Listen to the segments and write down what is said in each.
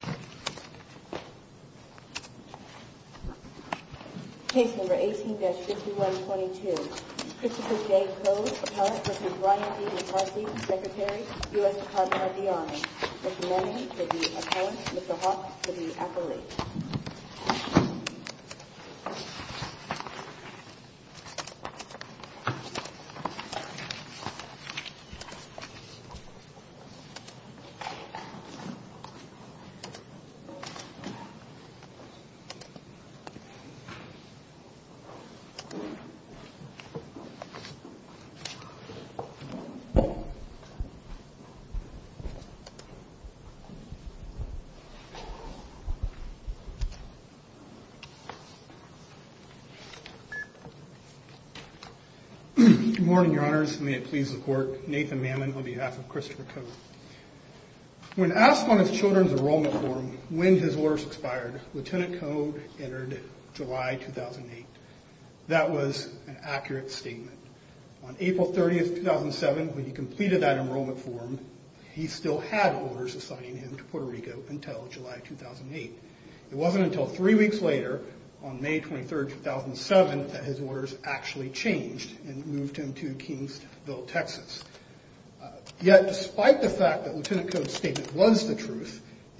Secretary, U.S. Department of the Army, Mr. Mannion, to the appellant, Mr. Hawks, to the appellant, Mr. LaMond, to the appellant, Mr. LaMond, to the appellant, Mr. LaMond, to the appellant, Mr. LaMond, to the appellant, Mr. LaMond,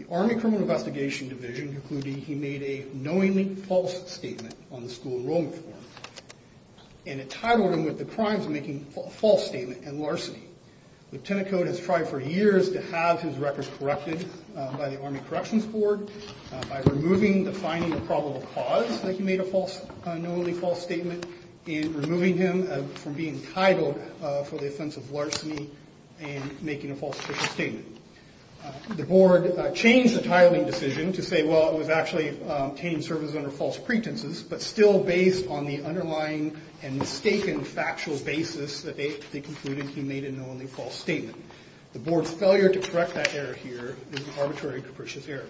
from a criminal investigation division, concluding he made a knowingly false statement on the school enrollment form and entitled him, with the crimes of making a false statement, in larceny. Lieutenant Code has tried for years to have his records corrected by the Army Corrections board by removing the finding a probable cause that he made a knowingly false statement and removing him from the being entitled for the offense of larceny and making a false official statement. The board changed the titling decision to say well it was actually obtaining service under false pretenses but still based on the underlying and mistaken factual basis that they concluded he made a knowingly false statement. The board's failure to correct that error here is an arbitrary and capricious error.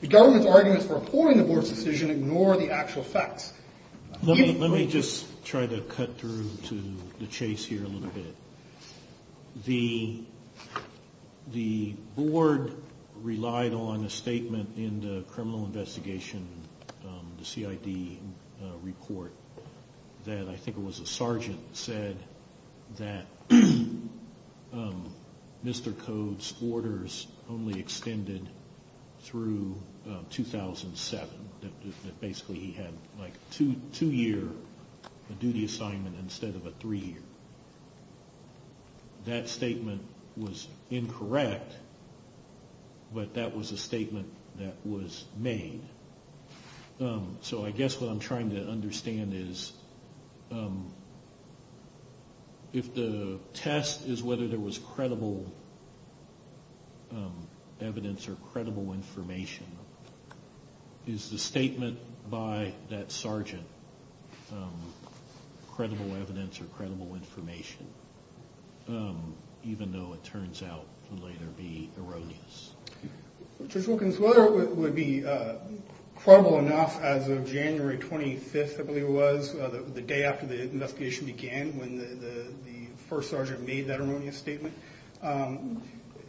The government's arguments for appalling the board's decision ignore the actual facts. Let me just try to cut through to the chase here a little bit. The board relied on a statement in the criminal investigation, the CID report, that I think it was a sergeant said that Mr. Code's orders only extended through 2007, that basically he had like a two year duty assignment instead of three years. That statement was incorrect but that was a statement that was made. So I guess what I'm trying to understand is if the test is whether there was credible evidence or credible information, is the statement by that sergeant credible evidence or not? Judge Wilkins, whether it would be credible enough as of January 25th I believe it was, the day after the investigation began when the first sergeant made that erroneous statement,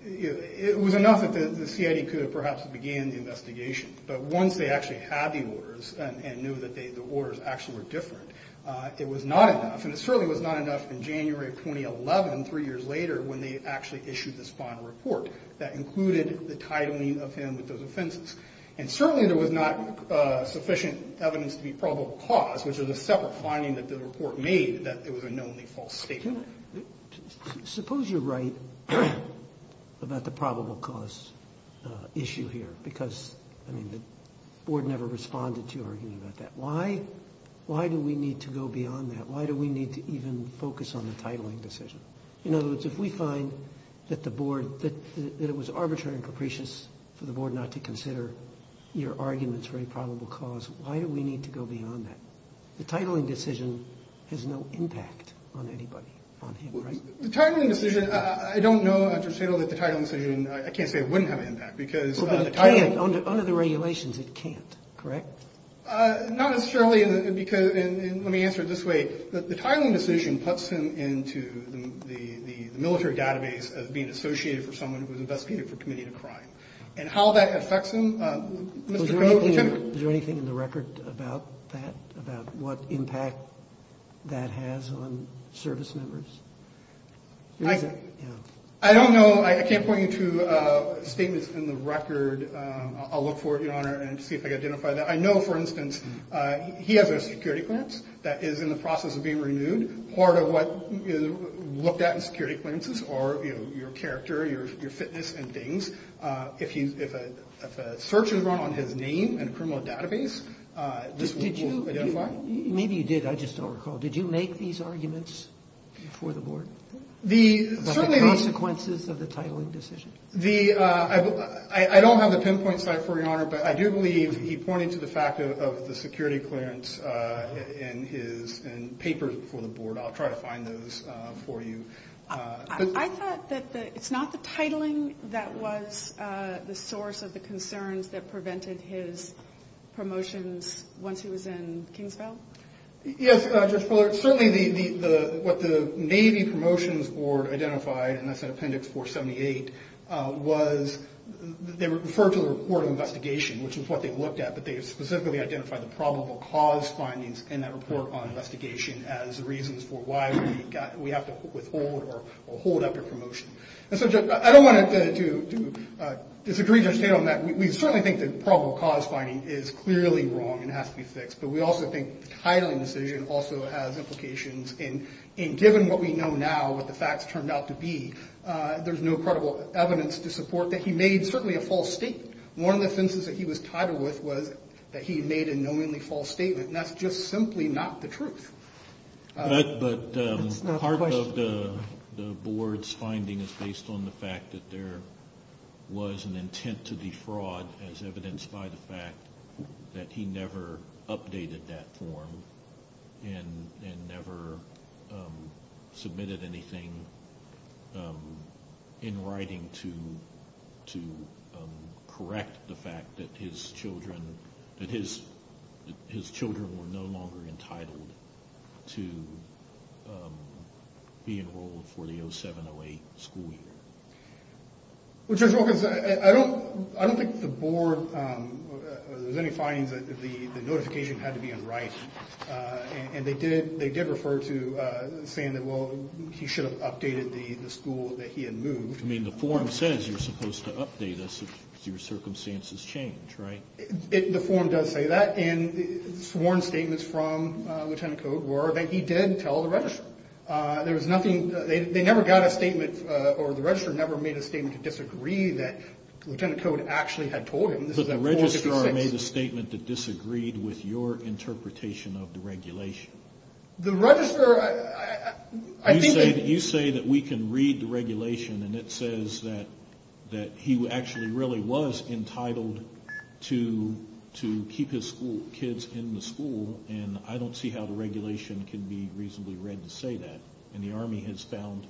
it was enough that the CID could have perhaps began the investigation but once they actually had the orders and knew that the orders actually were different, it was not enough and it certainly was not enough in January of 2011, three years later, when they actually issued this final report that included the titling of him with those offenses. And certainly there was not sufficient evidence to be probable cause, which was a separate finding that the report made that it was a knownly false statement. But suppose you're right about the probable cause issue here because the board never responded to your argument about that. Why do we need to go beyond that? Why do we need to even focus on the titling decision? In other words, if we find that it was arbitrary and capricious for the board not to consider your arguments for a probable cause, why do we need to go beyond that? The titling decision, I don't know, Attorney General, that the titling decision, I can't say it wouldn't have an impact because the titling... Under the regulations it can't, correct? Not necessarily because, let me answer it this way, the titling decision puts him into the military database as being associated for someone who was investigated for committing a crime. And how that affects him... Is there anything in the record about that, about what impact that has on service members? I don't know. I can't point you to statements in the record. I'll look for it, Your Honor, and see if I can identify that. I know, for instance, he has a security clearance that is in the process of being renewed. Part of what is looked at in security clearances are your character, your fitness and things. If a search is run on his name and criminal database, this will identify. Maybe you did, I just don't recall. Did you make these arguments before the board? The... About the consequences of the titling decision? I don't have the pinpoint site for you, Your Honor, but I do believe he pointed to the fact of the security clearance in papers before the board. I'll try to find those for you. I thought that it's not the titling that was the source of the concerns that prevented his promotions once he was in Kingsville? Yes, Judge Fuller. Certainly what the Navy Promotions Board identified, and that's in Appendix 478, was they referred to the report of investigation, which is what they looked at, but they specifically identified the probable cause findings in that report on investigation as the reasons for why we have to withhold or hold up your promotion. I don't want to disagree, Judge Tatum, on that. We certainly think the probable cause finding is clearly wrong and has to be fixed, but we also think the titling decision also has implications, and given what we know now, what the facts turned out to be, there's no credible evidence to support that he made certainly a false statement. One of the offenses that he was titled with was that he made a knowingly false statement, and that's just simply not the truth. But part of the board's finding is based on the fact that there was an intent to defraud as evidenced by the fact that he never updated that form and never submitted anything in order to be enrolled for the 07-08 school year. Well, Judge Wilkins, I don't think the board, or there's any findings that the notification had to be unright, and they did refer to saying that, well, he should have updated the school that he had moved. I mean, the form says you're supposed to update us if your circumstances change, right? The form does say that, and sworn statements from Lieutenant Code were that he did tell the registrar. There was nothing, they never got a statement, or the registrar never made a statement to disagree that Lieutenant Code actually had told him. But the registrar made a statement that disagreed with your interpretation of the regulation. The registrar, I think that... You say that we can read the regulation, and it says that he actually really was entitled to keep his kids in the school, and I don't see how the regulation can be reasonably read to say that, and the Army has found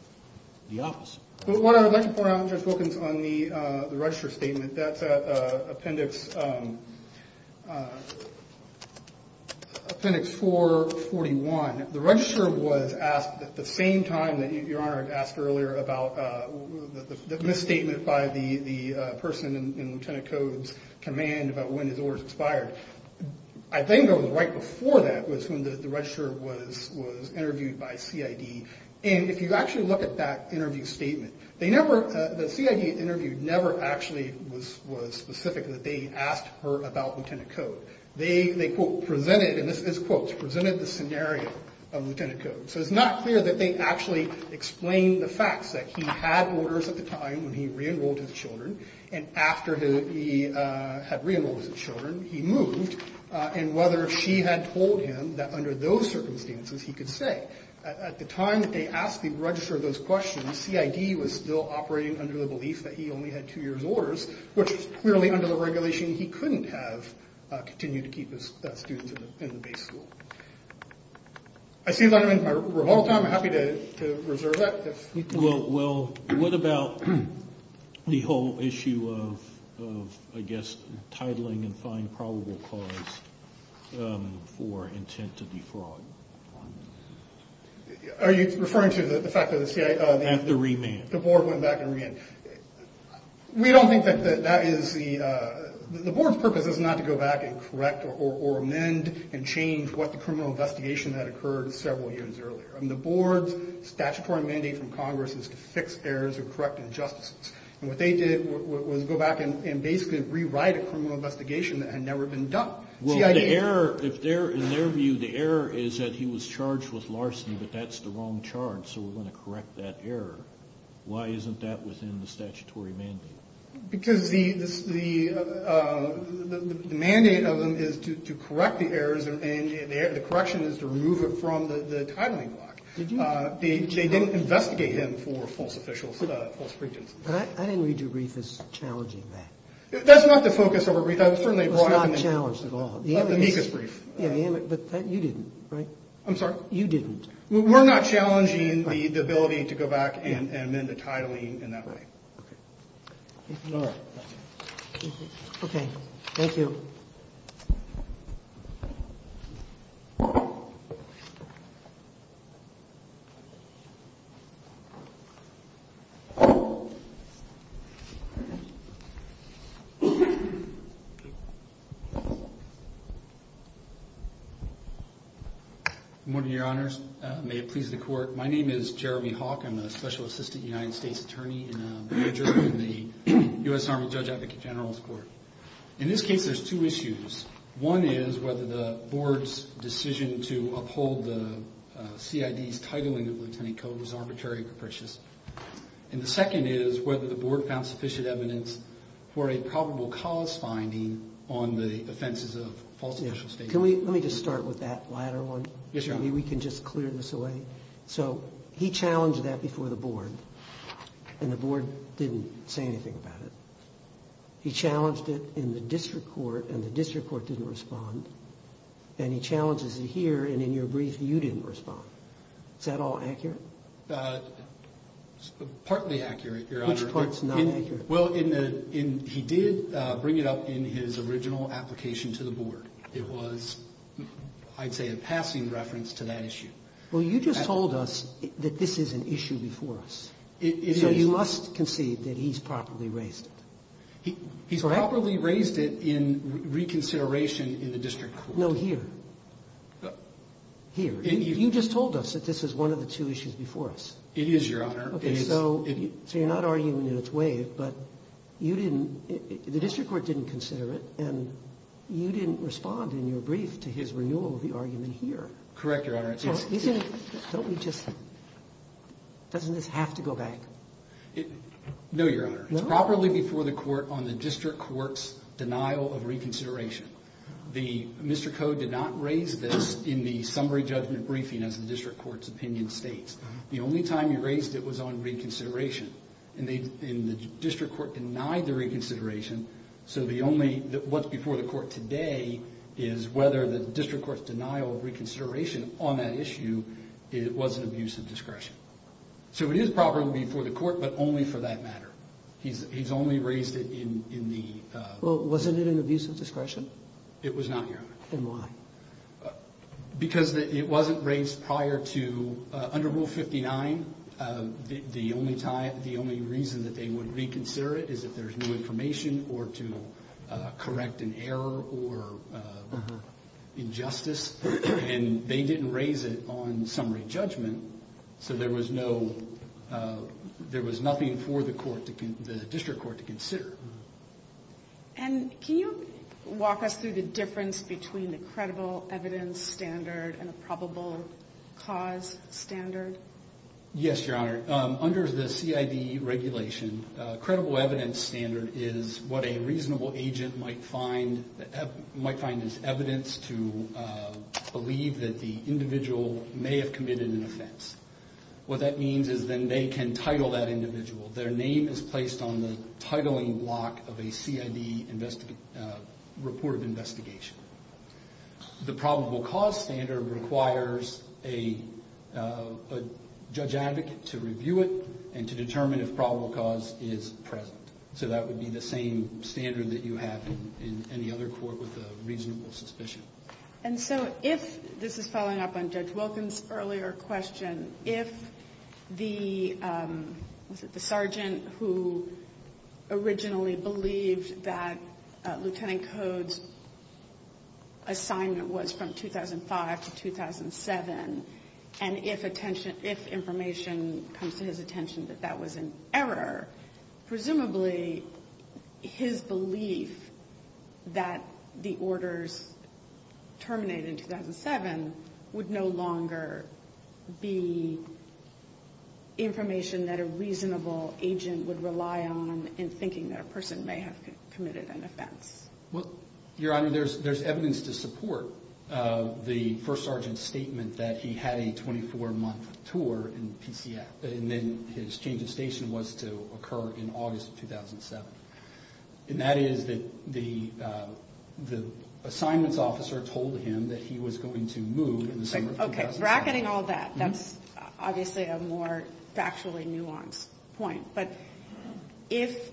the opposite. But what I would like to point out, Judge Wilkins, on the registrar statement, that's at appendix 441. The registrar was asked at the same time that your Honor had asked earlier about the misstatement made by the person in Lieutenant Code's command about when his orders expired. I think it was right before that was when the registrar was interviewed by CID. And if you actually look at that interview statement, the CID interview never actually was specific that they asked her about Lieutenant Code. They, quote, presented, and this is quotes, presented the scenario of Lieutenant Code. So it's not clear that they actually explained the facts, that he had orders at the time when he re-enrolled his children, and after he had re-enrolled his children, he moved, and whether she had told him that under those circumstances he could stay. At the time that they asked the registrar those questions, CID was still operating under the belief that he only had two years orders, which clearly under the regulation he couldn't have continued to keep his students in the base school. I see that I'm in my rebuttal time. I'm happy to reserve that. Well, what about the whole issue of, I guess, titling and fine probable cause for intent to defraud? Are you referring to the fact that the board went back and re-enrolled? We don't think that that is the, the board's purpose is not to go back and correct or amend and change what the criminal investigation that occurred several years earlier. The board's statutory mandate from Congress is to fix errors or correct injustices, and what they did was go back and basically rewrite a criminal investigation that had never been done. Well, the error, in their view, the error is that he was charged with larceny, but that's the wrong charge, so we're going to correct that error. Why isn't that within the statutory mandate? Because the mandate of them is to correct the errors, and the correction is to remove it from the titling block. They didn't investigate him for false officials, false prejudice. I didn't read your brief as challenging that. That's not the focus of our brief. It was not challenged at all. The amicus brief. Yeah, the amicus, but you didn't, right? I'm sorry? You didn't. We're not challenging the ability to go back and amend the titling in that way. All right. Okay. Thank you. Thank you. Good morning, Your Honors. May it please the Court. My name is Jeremy Hawke. I'm a special assistant United States attorney and a major in the U.S. Army Judge Advocate General's Court. In this case, there's two issues. One is whether the Board's decision to uphold the CID's titling of lieutenant code was arbitrary or capricious. And the second is whether the Board found sufficient evidence for a probable cause finding on the offenses of false official statement. Can we just start with that latter one? Yes, Your Honor. Maybe we can just clear this away. So he challenged that before the Board, and the Board didn't say anything about it. He challenged it in the district court, and the district court didn't respond. And he challenges it here, and in your brief, you didn't respond. Is that all accurate? Partly accurate, Your Honor. Which part's not accurate? Well, he did bring it up in his original application to the Board. It was, I'd say, a passing reference to that issue. Well, you just told us that this is an issue before us. So you must concede that he's properly raised it. He's properly raised it in reconsideration in the district court. No, here. Here. You just told us that this is one of the two issues before us. It is, Your Honor. So you're not arguing in its way, but you didn't, the district court didn't consider it, and you didn't respond in your brief to his renewal of the argument here. Correct, Your Honor. Don't we just, doesn't this have to go back? No, Your Honor. No? It's properly before the court on the district court's denial of reconsideration. Mr. Koh did not raise this in the summary judgment briefing, as the district court's opinion states. The only time he raised it was on reconsideration, and the district court denied the reconsideration. So the only, what's before the court today is whether the district court's denial of reconsideration on that issue was an abuse of discretion. So it is properly before the court, but only for that matter. He's only raised it in the... Well, wasn't it an abuse of discretion? It was not, Your Honor. Then why? Because it wasn't raised prior to, under Rule 59, the only time, the only reason that they would reconsider it is if there's no information or to correct an error or injustice. And they didn't raise it on summary judgment, so there was no, there was nothing for the court to, the district court to consider. And can you walk us through the difference between the credible evidence standard and a probable cause standard? Yes, Your Honor. Under the CID regulation, a credible evidence standard is what a reasonable agent might find as evidence to believe that the individual may have committed an offense. What that means is then they can title that individual. Their name is placed on the titling block of a CID report of investigation. The probable cause standard requires a judge advocate to review it and to determine if probable cause is present. So that would be the same standard that you have in any other court with a reasonable suspicion. And so if, this is following up on Judge Wilkins' earlier question, if the, was it the sergeant who originally believed that Lieutenant Code's assignment was from 2005 to 2007, and if attention, if information comes to his attention that that was an error, presumably his belief that the orders terminated in 2007 would no longer be information that a reasonable agent would rely on in thinking that a person may have committed an offense. Well, Your Honor, there's evidence to support the first sergeant's statement that he had a 24-month tour in PCF, and then his change of station was to occur in August of 2007. And that is that the assignments officer told him that he was going to move in the summer of 2007. That's obviously a more factually nuanced point. But if,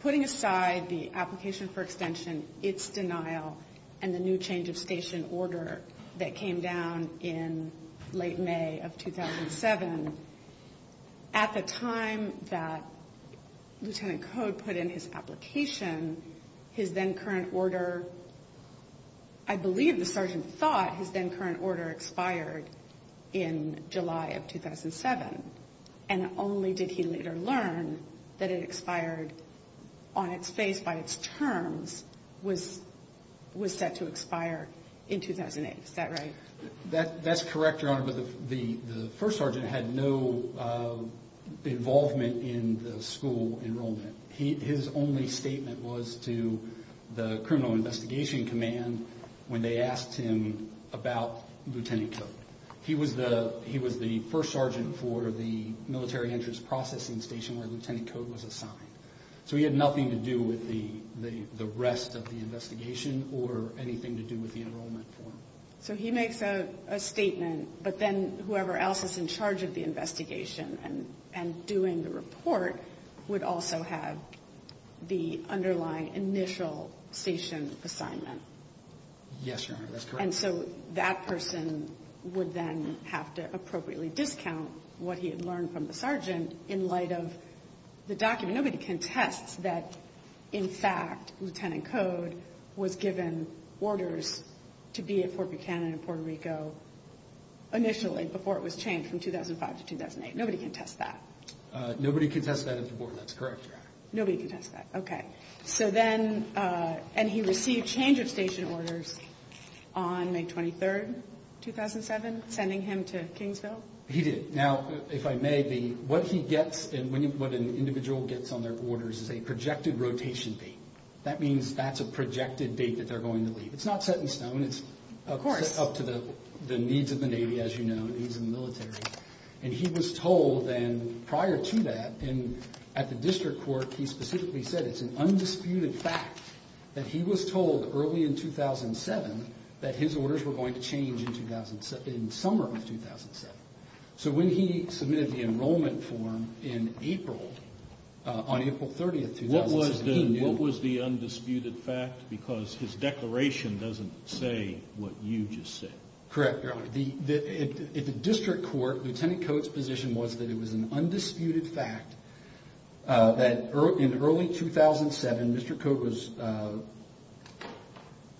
putting aside the application for extension, its denial, and the new change of station order that came down in late May of 2007, at the time that Lieutenant Code put in his application, his then current order, I believe the sergeant thought his then current order expired in July of 2007. And only did he later learn that it expired on its face by its terms, was set to expire in 2008. Is that right? That's correct, Your Honor, but the first sergeant had no involvement in the school enrollment. His only statement was to the Criminal Investigation Command when they asked him about Lieutenant Code. He was the first sergeant for the Military Entrance Processing Station where Lieutenant Code was assigned. So he had nothing to do with the rest of the investigation or anything to do with the enrollment form. So he makes a statement, but then whoever else is in charge of the investigation and doing the report would also have the underlying initial station assignment. Yes, Your Honor, that's correct. And so that person would then have to appropriately discount what he had learned from the sergeant in light of the document. Nobody contests that, in fact, Lieutenant Code was given orders to be at Fort Buchanan in Puerto Rico initially before it was changed from 2005 to 2008. Nobody contests that. Nobody contests that at the Board, that's correct, Your Honor. Nobody contests that, okay. So then, and he received change of station orders on May 23, 2007, sending him to Kingsville? He did. Now, if I may, what he gets and what an individual gets on their orders is a projected rotation date. That means that's a projected date that they're going to leave. It's not set in stone. Of course. It's set up to the needs of the Navy, as you know, and the needs of the military. And he was told then, prior to that, at the district court, he specifically said it's an undisputed fact that he was told early in 2007 that his orders were going to change in summer of 2007. So when he submitted the enrollment form in April, on April 30, 2007, he knew. What was the undisputed fact? Because his declaration doesn't say what you just said. Correct, Your Honor. At the district court, Lieutenant Cote's position was that it was an undisputed fact that in early 2007, Mr. Cote was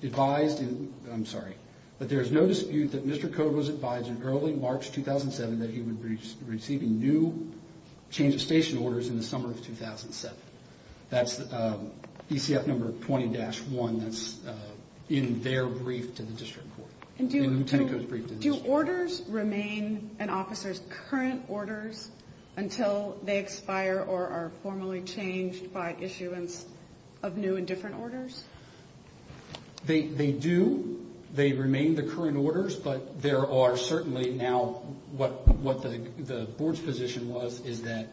advised in, I'm sorry, but there's no dispute that Mr. Cote was advised in early March 2007 that he would be receiving new change of station orders in the summer of 2007. That's DCF number 20-1, that's in their brief to the district court. And do orders remain an officer's current orders until they expire or are formally changed by issuance of new and different orders? They do. They remain the current orders, but there are certainly now what the board's position was is that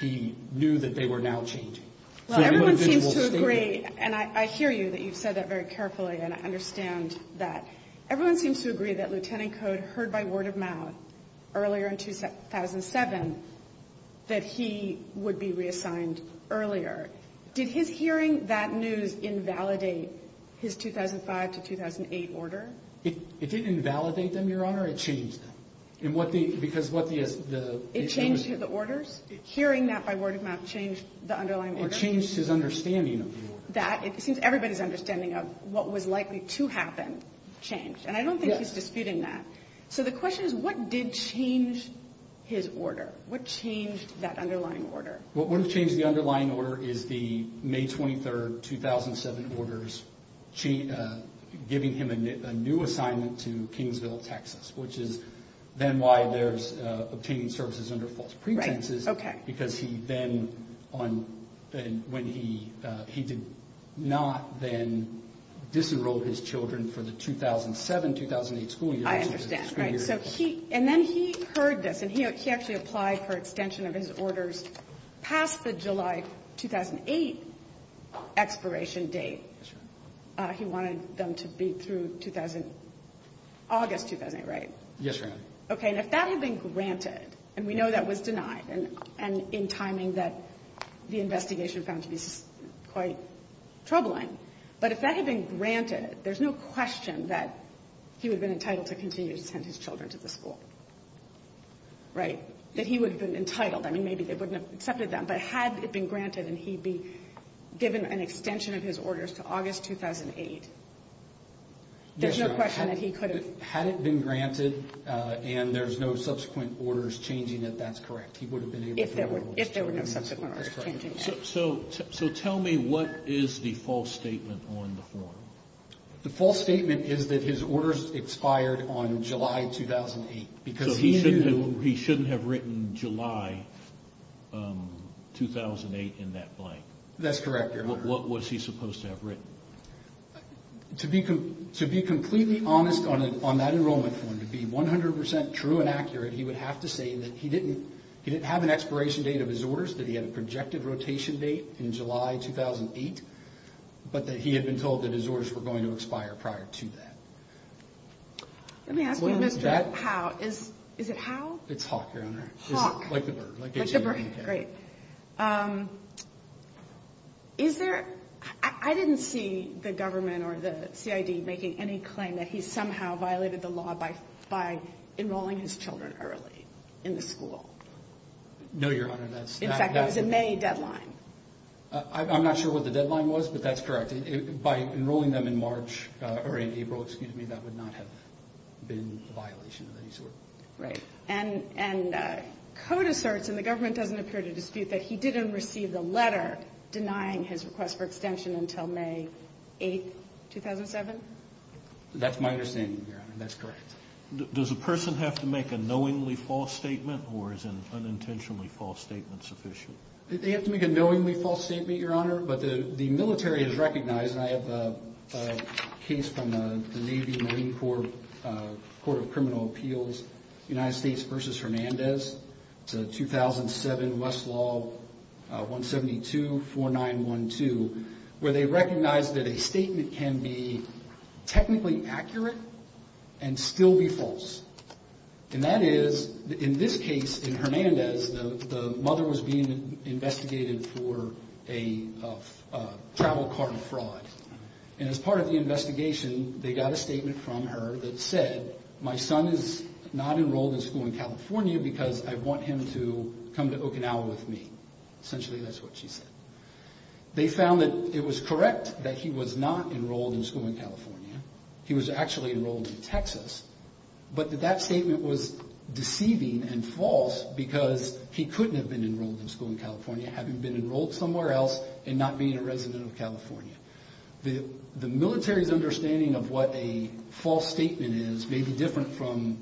he knew that they were now changing. Well, everyone seems to agree, and I hear you, that you've said that very carefully, and I understand that. Everyone seems to agree that Lieutenant Cote heard by word of mouth earlier in 2007 that he would be reassigned earlier. Did his hearing that news invalidate his 2005 to 2008 order? It didn't invalidate them, Your Honor. It changed them. Because what the issue was... Hearing that by word of mouth changed the underlying order? It changed his understanding of the order. It seems everybody's understanding of what was likely to happen changed. And I don't think he's disputing that. So the question is what did change his order? What changed that underlying order? What would have changed the underlying order is the May 23, 2007 orders giving him a new assignment to Kingsville, Texas, which is then why there's obtaining services under false pretenses, because he then, when he, he did not then disenroll his children for the 2007-2008 school year. I understand, right. So he, and then he heard this, and he actually applied for extension of his orders past the July 2008 expiration date. Yes, Your Honor. He wanted them to be through August 2008, right? Yes, Your Honor. Okay, and if that had been granted, and we know that was denied, and in timing that the investigation found to be quite troubling, but if that had been granted, there's no question that he would have been entitled to continue to send his children to the school, right? That he would have been entitled. I mean, maybe they wouldn't have accepted that, but had it been granted, and he'd be given an extension of his orders to August 2008, there's no question that he could have. Yes, Your Honor. Had it been granted, and there's no subsequent orders changing it, that's correct. He would have been able to send his children to the school. If there were no subsequent orders changing that. So tell me what is the false statement on the form? The false statement is that his orders expired on July 2008. So he shouldn't have written July 2008 in that blank? That's correct, Your Honor. What was he supposed to have written? To be completely honest on that enrollment form, to be 100% true and accurate, he would have to say that he didn't have an expiration date of his orders, that he had a projected rotation date in July 2008, but that he had been told that his orders were going to expire prior to that. Let me ask you, Mr. Howe, is it Howe? It's Hawk, Your Honor. Hawk. Like the bird. Like the bird, great. Is there, I didn't see the government or the CID making any claim that he somehow violated the law by enrolling his children early in the school. No, Your Honor, that's not. In fact, it was a May deadline. I'm not sure what the deadline was, but that's correct. By enrolling them in March, or in April, excuse me, that would not have been a violation of any sort. Right. And code asserts, and the government doesn't appear to dispute, that he didn't receive the letter denying his request for extension until May 8, 2007? That's my understanding, Your Honor. That's correct. Does a person have to make a knowingly false statement, or is an unintentionally false statement sufficient? They have to make a knowingly false statement, Your Honor, but the military has recognized, and I have a case from the Navy Marine Corps Court of Criminal Appeals, United States v. Hernandez. It's a 2007 Westlaw 1724912, where they recognized that a statement can be technically accurate and still be false. And that is, in this case, in Hernandez, the mother was being investigated for a travel card fraud. And as part of the investigation, they got a statement from her that said, my son is not enrolled in school in California because I want him to come to Okinawa with me. Essentially, that's what she said. They found that it was correct that he was not enrolled in school in California. He was actually enrolled in Texas. But that statement was deceiving and false because he couldn't have been enrolled in school in California having been enrolled somewhere else and not being a resident of California. The military's understanding of what a false statement is may be different from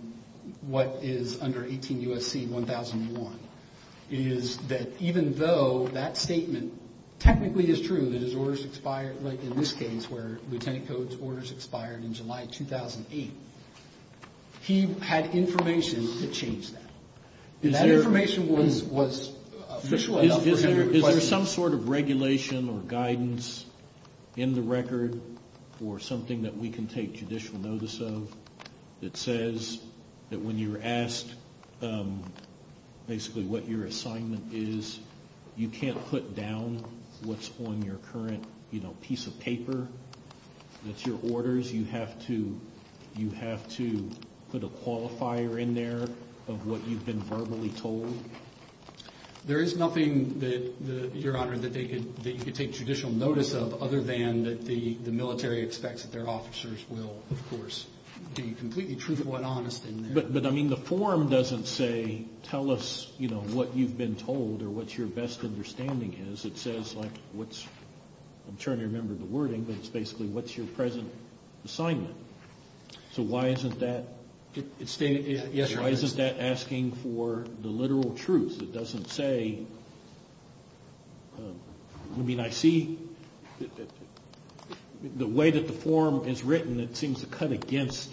what is under 18 U.S.C. 1001. It is that even though that statement technically is true, that his orders expired, like in this case where Lieutenant Codes orders expired in July 2008, he had information to change that. And that information was official enough for him to question. Is there some sort of regulation or guidance in the record or something that we can take judicial notice of that says that when you're asked basically what your assignment is, you can't put down what's on your current piece of paper that's your orders? You have to put a qualifier in there of what you've been verbally told? There is nothing, Your Honor, that you could take judicial notice of other than that the military expects that their officers will, of course, be completely truthful and honest in there. But, I mean, the form doesn't say tell us what you've been told or what your best understanding is. It says like what's, I'm trying to remember the wording, but it's basically what's your present assignment. So why isn't that asking for the literal truth? It doesn't say, I mean, I see the way that the form is written, and it seems to cut against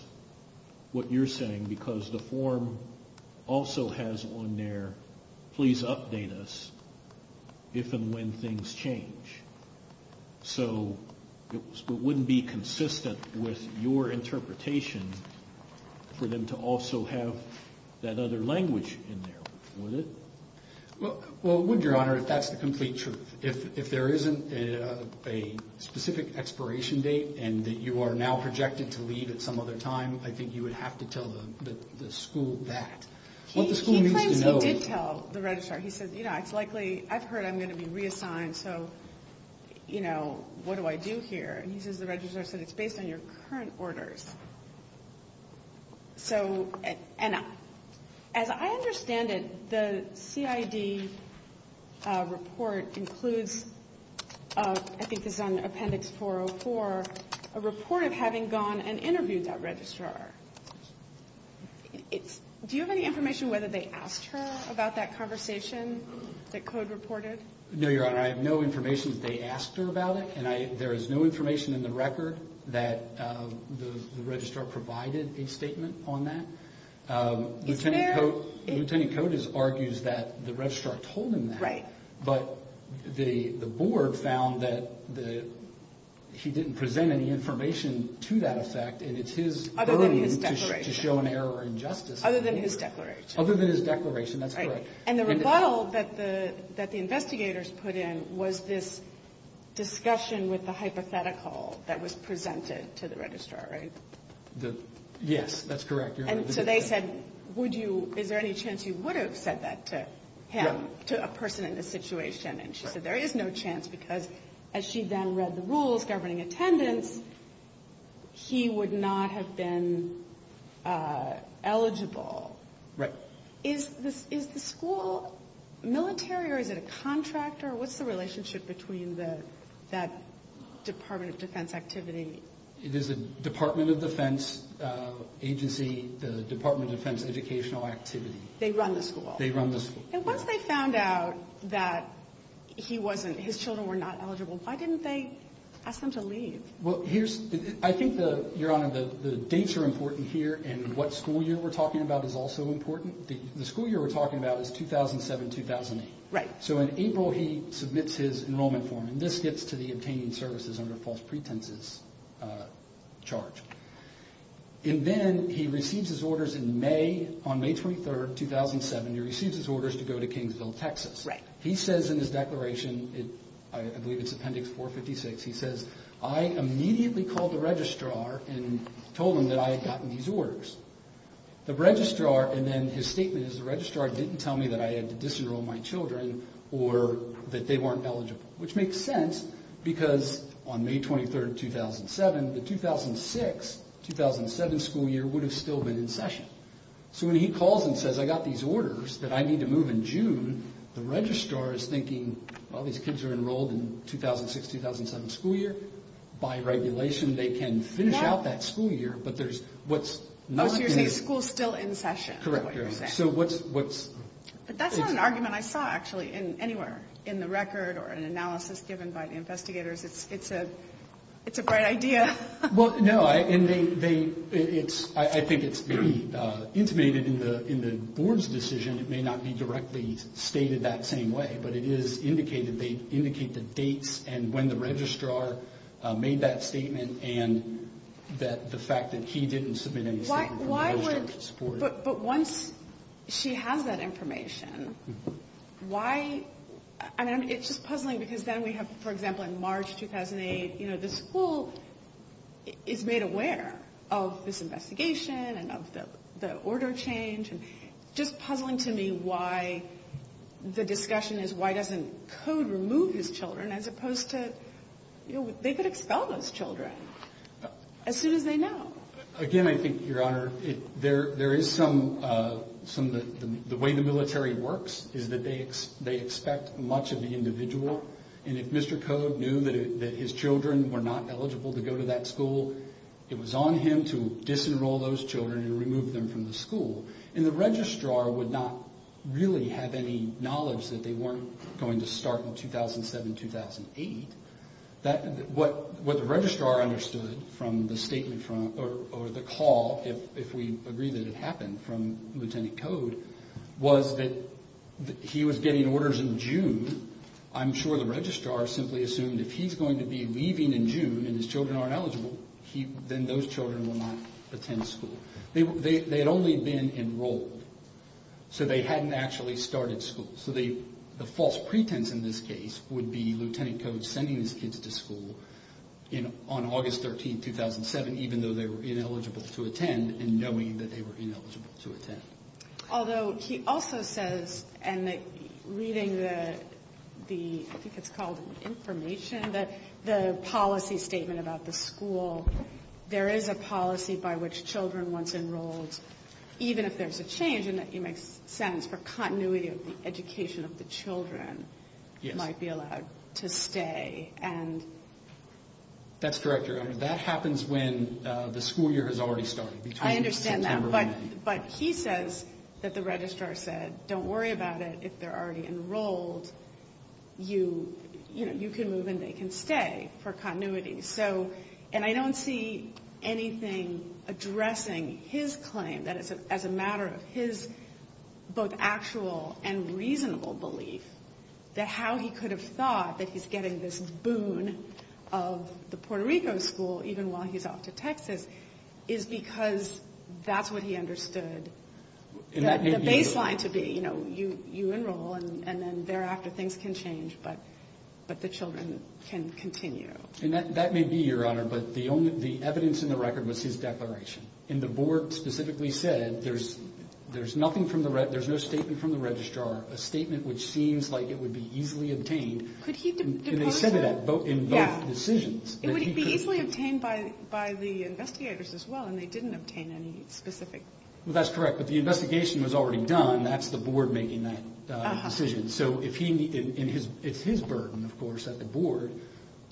what you're saying because the form also has on there please update us if and when things change. So it wouldn't be consistent with your interpretation for them to also have that other language in there, would it? Well, it would, Your Honor, if that's the complete truth. If there isn't a specific expiration date and that you are now projected to leave at some other time, I think you would have to tell the school that. He claims he did tell the registrar. He said, you know, it's likely, I've heard I'm going to be reassigned, so, you know, what do I do here? And he says the registrar said it's based on your current orders. So, and as I understand it, the CID report includes, I think this is on Appendix 404, a report of having gone and interviewed that registrar. Do you have any information whether they asked her about that conversation that Code reported? No, Your Honor, I have no information that they asked her about it, and there is no information in the record that the registrar provided a statement on that. Is there? Lieutenant Coates argues that the registrar told him that. Right. But the board found that he didn't present any information to that effect, and it's his early to show an error or injustice. Other than his declaration. Other than his declaration, that's correct. And the rebuttal that the investigators put in was this discussion with the hypothetical that was presented to the registrar, right? Yes, that's correct, Your Honor. And so they said, would you, is there any chance you would have said that to him, to a person in this situation? And she said there is no chance because as she then read the rules governing attendance, he would not have been eligible. Right. Is the school military or is it a contractor? What's the relationship between that Department of Defense activity? It is a Department of Defense agency, the Department of Defense educational activity. They run the school? They run the school. And once they found out that he wasn't, his children were not eligible, why didn't they ask him to leave? I think, Your Honor, the dates are important here, and what school year we're talking about is also important. The school year we're talking about is 2007-2008. So in April he submits his enrollment form, and this gets to the obtaining services under false pretenses charge. And then he receives his orders in May, on May 23, 2007, he receives his orders to go to Kingsville, Texas. He says in his declaration, I believe it's Appendix 456, he says I immediately called the registrar and told him that I had gotten these orders. The registrar, and then his statement is the registrar didn't tell me that I had to disenroll my children or that they weren't eligible, which makes sense because on May 23, 2007, the 2006-2007 school year would have still been in session. So when he calls and says I got these orders that I need to move in June, the registrar is thinking, well, these kids are enrolled in 2006-2007 school year. By regulation, they can finish out that school year, but there's what's not in session. So you're saying school's still in session? Correct, Your Honor. So what's... But that's not an argument I saw, actually, anywhere in the record or an analysis given by the investigators. It's a bright idea. Well, no, I think it's intimated in the board's decision. It may not be directly stated that same way, but it is indicated. They indicate the dates and when the registrar made that statement and the fact that he didn't submit any statement from the registrar to support it. But once she has that information, why? I mean, it's just puzzling because then we have, for example, in March 2008, the school is made aware of this investigation and of the order change. It's just puzzling to me why the discussion is why doesn't Code remove his children as opposed to they could expel those children as soon as they know. Again, I think, Your Honor, there is some... The way the military works is that they expect much of the individual. And if Mr. Code knew that his children were not eligible to go to that school, it was on him to disenroll those children and remove them from the school. And the registrar would not really have any knowledge that they weren't going to start in 2007, 2008. What the registrar understood from the statement or the call, if we agree that it happened from Lieutenant Code, was that he was getting orders in June. I'm sure the registrar simply assumed if he's going to be leaving in June and his children aren't eligible, then those children will not attend school. They had only been enrolled, so they hadn't actually started school. So the false pretense in this case would be Lieutenant Code sending his kids to school on August 13, 2007, even though they were ineligible to attend and knowing that they were ineligible to attend. Although he also says, and reading the, I think it's called information, the policy statement about the school, there is a policy by which children, once enrolled, even if there's a change, and it makes sense for continuity of the education of the children, might be allowed to stay. That's correct, Your Honor. That happens when the school year has already started, between September and May. But he says that the registrar said, don't worry about it. If they're already enrolled, you can move and they can stay for continuity. And I don't see anything addressing his claim that as a matter of his both actual and reasonable belief, that how he could have thought that he's getting this boon of the Puerto Rico school, even while he's off to Texas, is because that's what he understood the baseline to be. You know, you enroll and then thereafter things can change, but the children can continue. And that may be, Your Honor, but the evidence in the record was his declaration. And the board specifically said there's no statement from the registrar, a statement which seems like it would be easily obtained. And they said that in both decisions. It would be easily obtained by the investigators as well, and they didn't obtain any specific. Well, that's correct, but the investigation was already done. That's the board making that decision. So it's his burden, of course, at the board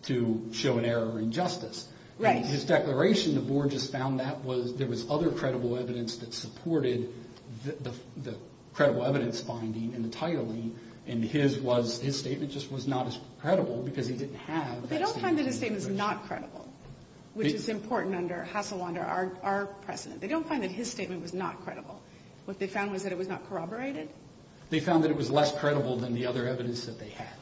to show an error or injustice. Right. His declaration, the board just found that there was other credible evidence that supported the credible evidence finding and the titling, and his statement just was not as credible because he didn't have that statement. They don't find that his statement is not credible, which is important under our precedent. They don't find that his statement was not credible. What they found was that it was not corroborated. They found that it was less credible than the other evidence that they had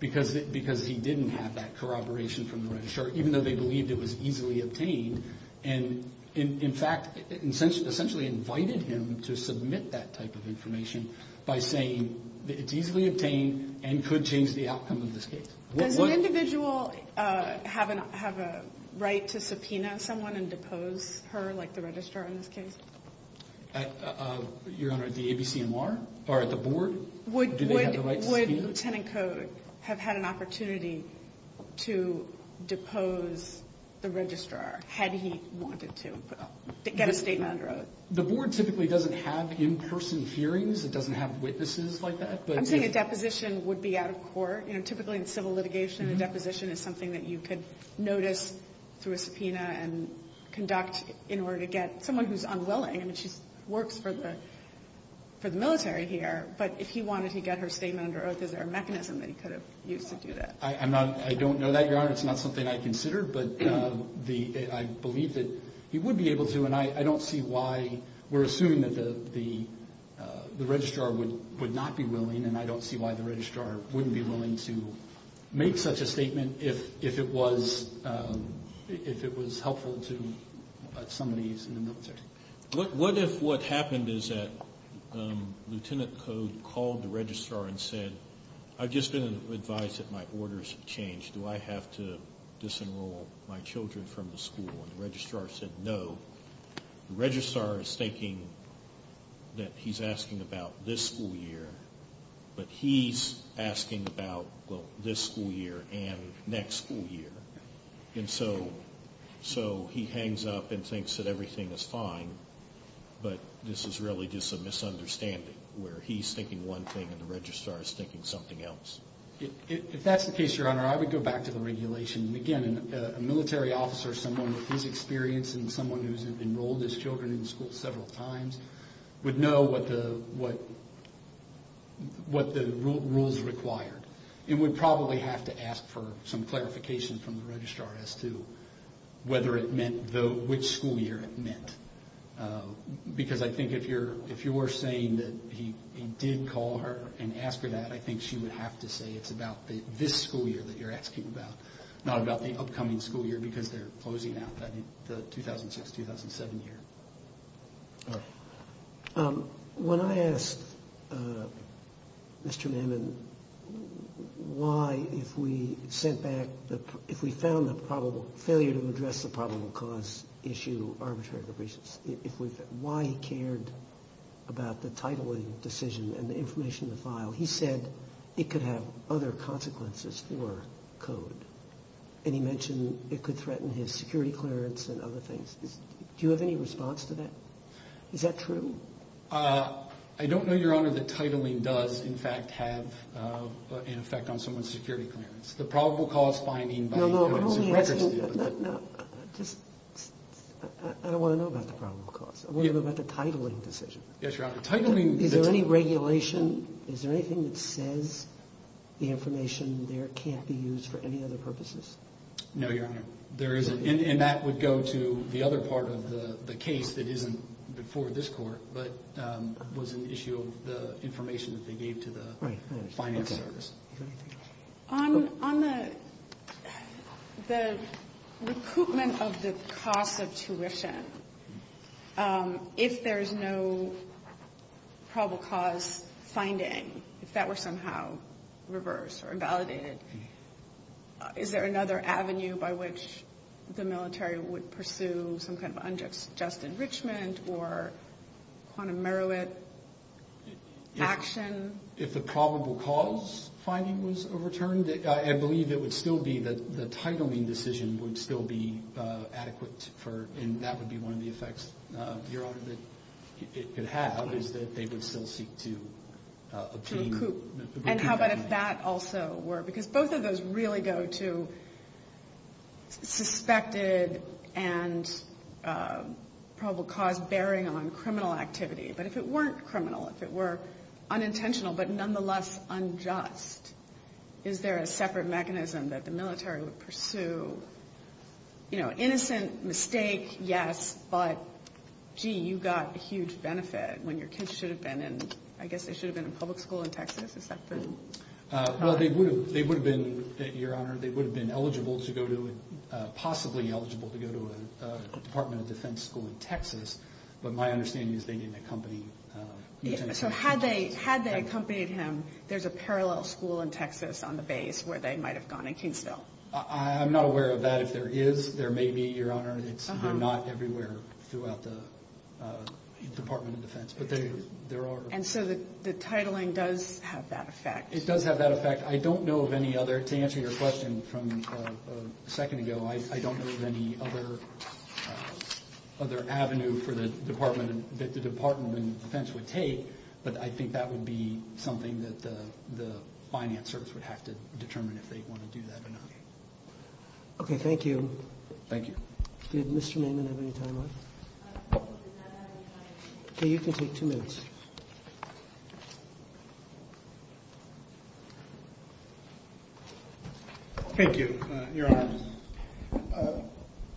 because he didn't have that corroboration from the registrar, even though they believed it was easily obtained. And, in fact, essentially invited him to submit that type of information by saying that it's easily obtained and could change the outcome of this case. Does an individual have a right to subpoena someone and depose her, like the registrar in this case? Your Honor, the ABCMR or at the board, do they have the right to subpoena? Would Lieutenant Code have had an opportunity to depose the registrar had he wanted to get a statement? The board typically doesn't have in-person hearings. It doesn't have witnesses like that. I'm saying a deposition would be out of court. Typically in civil litigation, a deposition is something that you could notice through a subpoena and conduct in order to get someone who's unwilling. I mean, she works for the military here, but if he wanted to get her statement under oath, is there a mechanism that he could have used to do that? I don't know that, Your Honor. It's not something I considered, but I believe that he would be able to, and I don't see why. We're assuming that the registrar would not be willing, and I don't see why the registrar wouldn't be willing to make such a statement if it was helpful to somebody who's in the military. What if what happened is that Lieutenant Code called the registrar and said, I've just been advised that my orders have changed. Do I have to disenroll my children from the school? And the registrar said no. The registrar is thinking that he's asking about this school year, but he's asking about this school year and next school year. And so he hangs up and thinks that everything is fine, but this is really just a misunderstanding where he's thinking one thing and the registrar is thinking something else. If that's the case, Your Honor, I would go back to the regulation. Again, a military officer, someone with his experience and someone who's enrolled his children in school several times, would know what the rules required, and would probably have to ask for some clarification from the registrar as to whether it meant which school year it meant. Because I think if you were saying that he did call her and ask her that, I think she would have to say it's about this school year that you're asking about, not about the upcoming school year, because they're closing out the 2006-2007 year. All right. When I asked Mr. Manman why, if we sent back the – if we found the failure to address the probable cause issue arbitrarily, why he cared about the titling decision and the information in the file, he said it could have other consequences for code, and he mentioned it could threaten his security clearance and other things. Do you have any response to that? Is that true? I don't know, Your Honor, that titling does, in fact, have an effect on someone's security clearance. The probable cause finding by the government is a record statement. No, no, I don't want to know about the probable cause. I want to know about the titling decision. Yes, Your Honor. Is there any regulation, is there anything that says the information there can't be used for any other purposes? No, Your Honor. There isn't, and that would go to the other part of the case that isn't before this court but was an issue of the information that they gave to the finance service. On the recoupment of the cost of tuition, if there's no probable cause finding, if that were somehow reversed or invalidated, is there another avenue by which the military would pursue some kind of unjust enrichment or quantum merit action? If the probable cause finding was overturned, I believe it would still be that the titling decision would still be adequate and that would be one of the effects, Your Honor, that it could have, is that they would still seek to obtain the recoupment. And how about if that also were? Because both of those really go to suspected and probable cause bearing on criminal activity. But if it weren't criminal, if it were unintentional but nonetheless unjust, is there a separate mechanism that the military would pursue? Innocent mistake, yes, but gee, you got a huge benefit when your kids should have been in, I guess they should have been in public school in Texas, is that correct? Well, they would have been, Your Honor, they would have been eligible to go to, possibly eligible to go to a Department of Defense school in Texas, but my understanding is they didn't accompany each other. So had they accompanied him, there's a parallel school in Texas on the base where they might have gone in Kingsville. I'm not aware of that. If there is, there may be, Your Honor. They're not everywhere throughout the Department of Defense, but there are. And so the titling does have that effect. It does have that effect. I don't know of any other, to answer your question from a second ago, I don't know of any other avenue for the Department, that the Department of Defense would take, but I think that would be something that the finance service would have to determine if they want to do that or not. Okay, thank you. Thank you. Did Mr. Naiman have any time left? Okay, you can take two minutes. Thank you, Your Honor.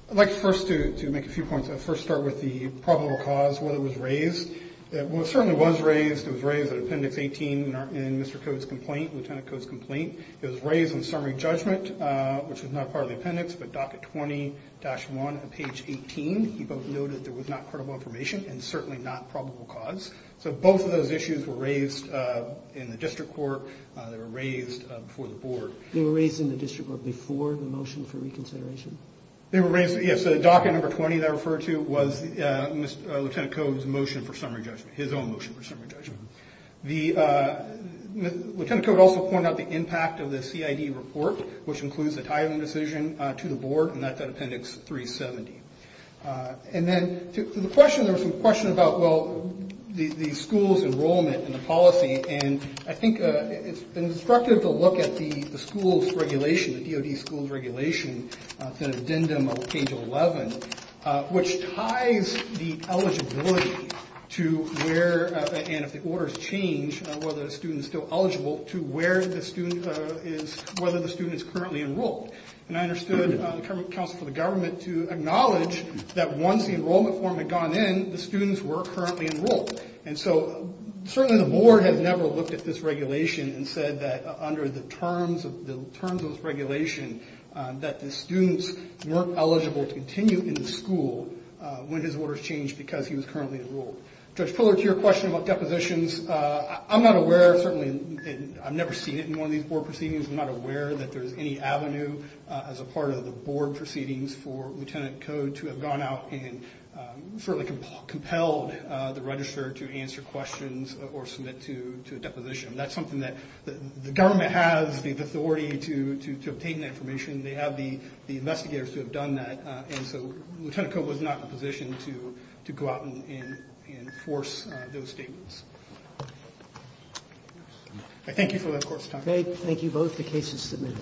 I'd like first to make a few points. I'd first start with the probable cause, whether it was raised. Well, it certainly was raised. It was raised at Appendix 18 in Mr. Codes' complaint, Lieutenant Codes' complaint. It was raised in summary judgment, which was not part of the appendix, but Docket 20-1 at page 18. You both noted there was not credible information and certainly not probable cause. So both of those issues were raised in the district court. They were raised before the board. They were raised in the district court before the motion for reconsideration? They were raised, yes. Docket number 20 that I referred to was Lieutenant Codes' motion for summary judgment, his own motion for summary judgment. Lieutenant Codes also pointed out the impact of the CID report, which includes the tithing decision to the board, and that's at Appendix 370. And then to the question, there was a question about, well, the school's enrollment and the policy, and I think it's instructive to look at the school's regulation, the DOD school's regulation, it's an addendum on page 11, which ties the eligibility to where, and if the orders change, whether a student is still eligible, to where the student is, whether the student is currently enrolled. And I understood the Council for the Government to acknowledge that once the enrollment form had gone in, the students were currently enrolled. And so certainly the board has never looked at this regulation and said that under the terms of this regulation, that the students weren't eligible to continue in the school when his orders changed because he was currently enrolled. Judge Fuller, to your question about depositions, I'm not aware, certainly I've never seen it in one of these board proceedings, I'm not aware that there's any avenue as a part of the board proceedings for Lieutenant Code to have gone out and certainly compelled the registrar to answer questions or submit to a deposition. That's something that the government has the authority to obtain that information, they have the investigators who have done that, and so Lieutenant Code was not in a position to go out and enforce those statements. I thank you for that court's time. Thank you both. The case is submitted.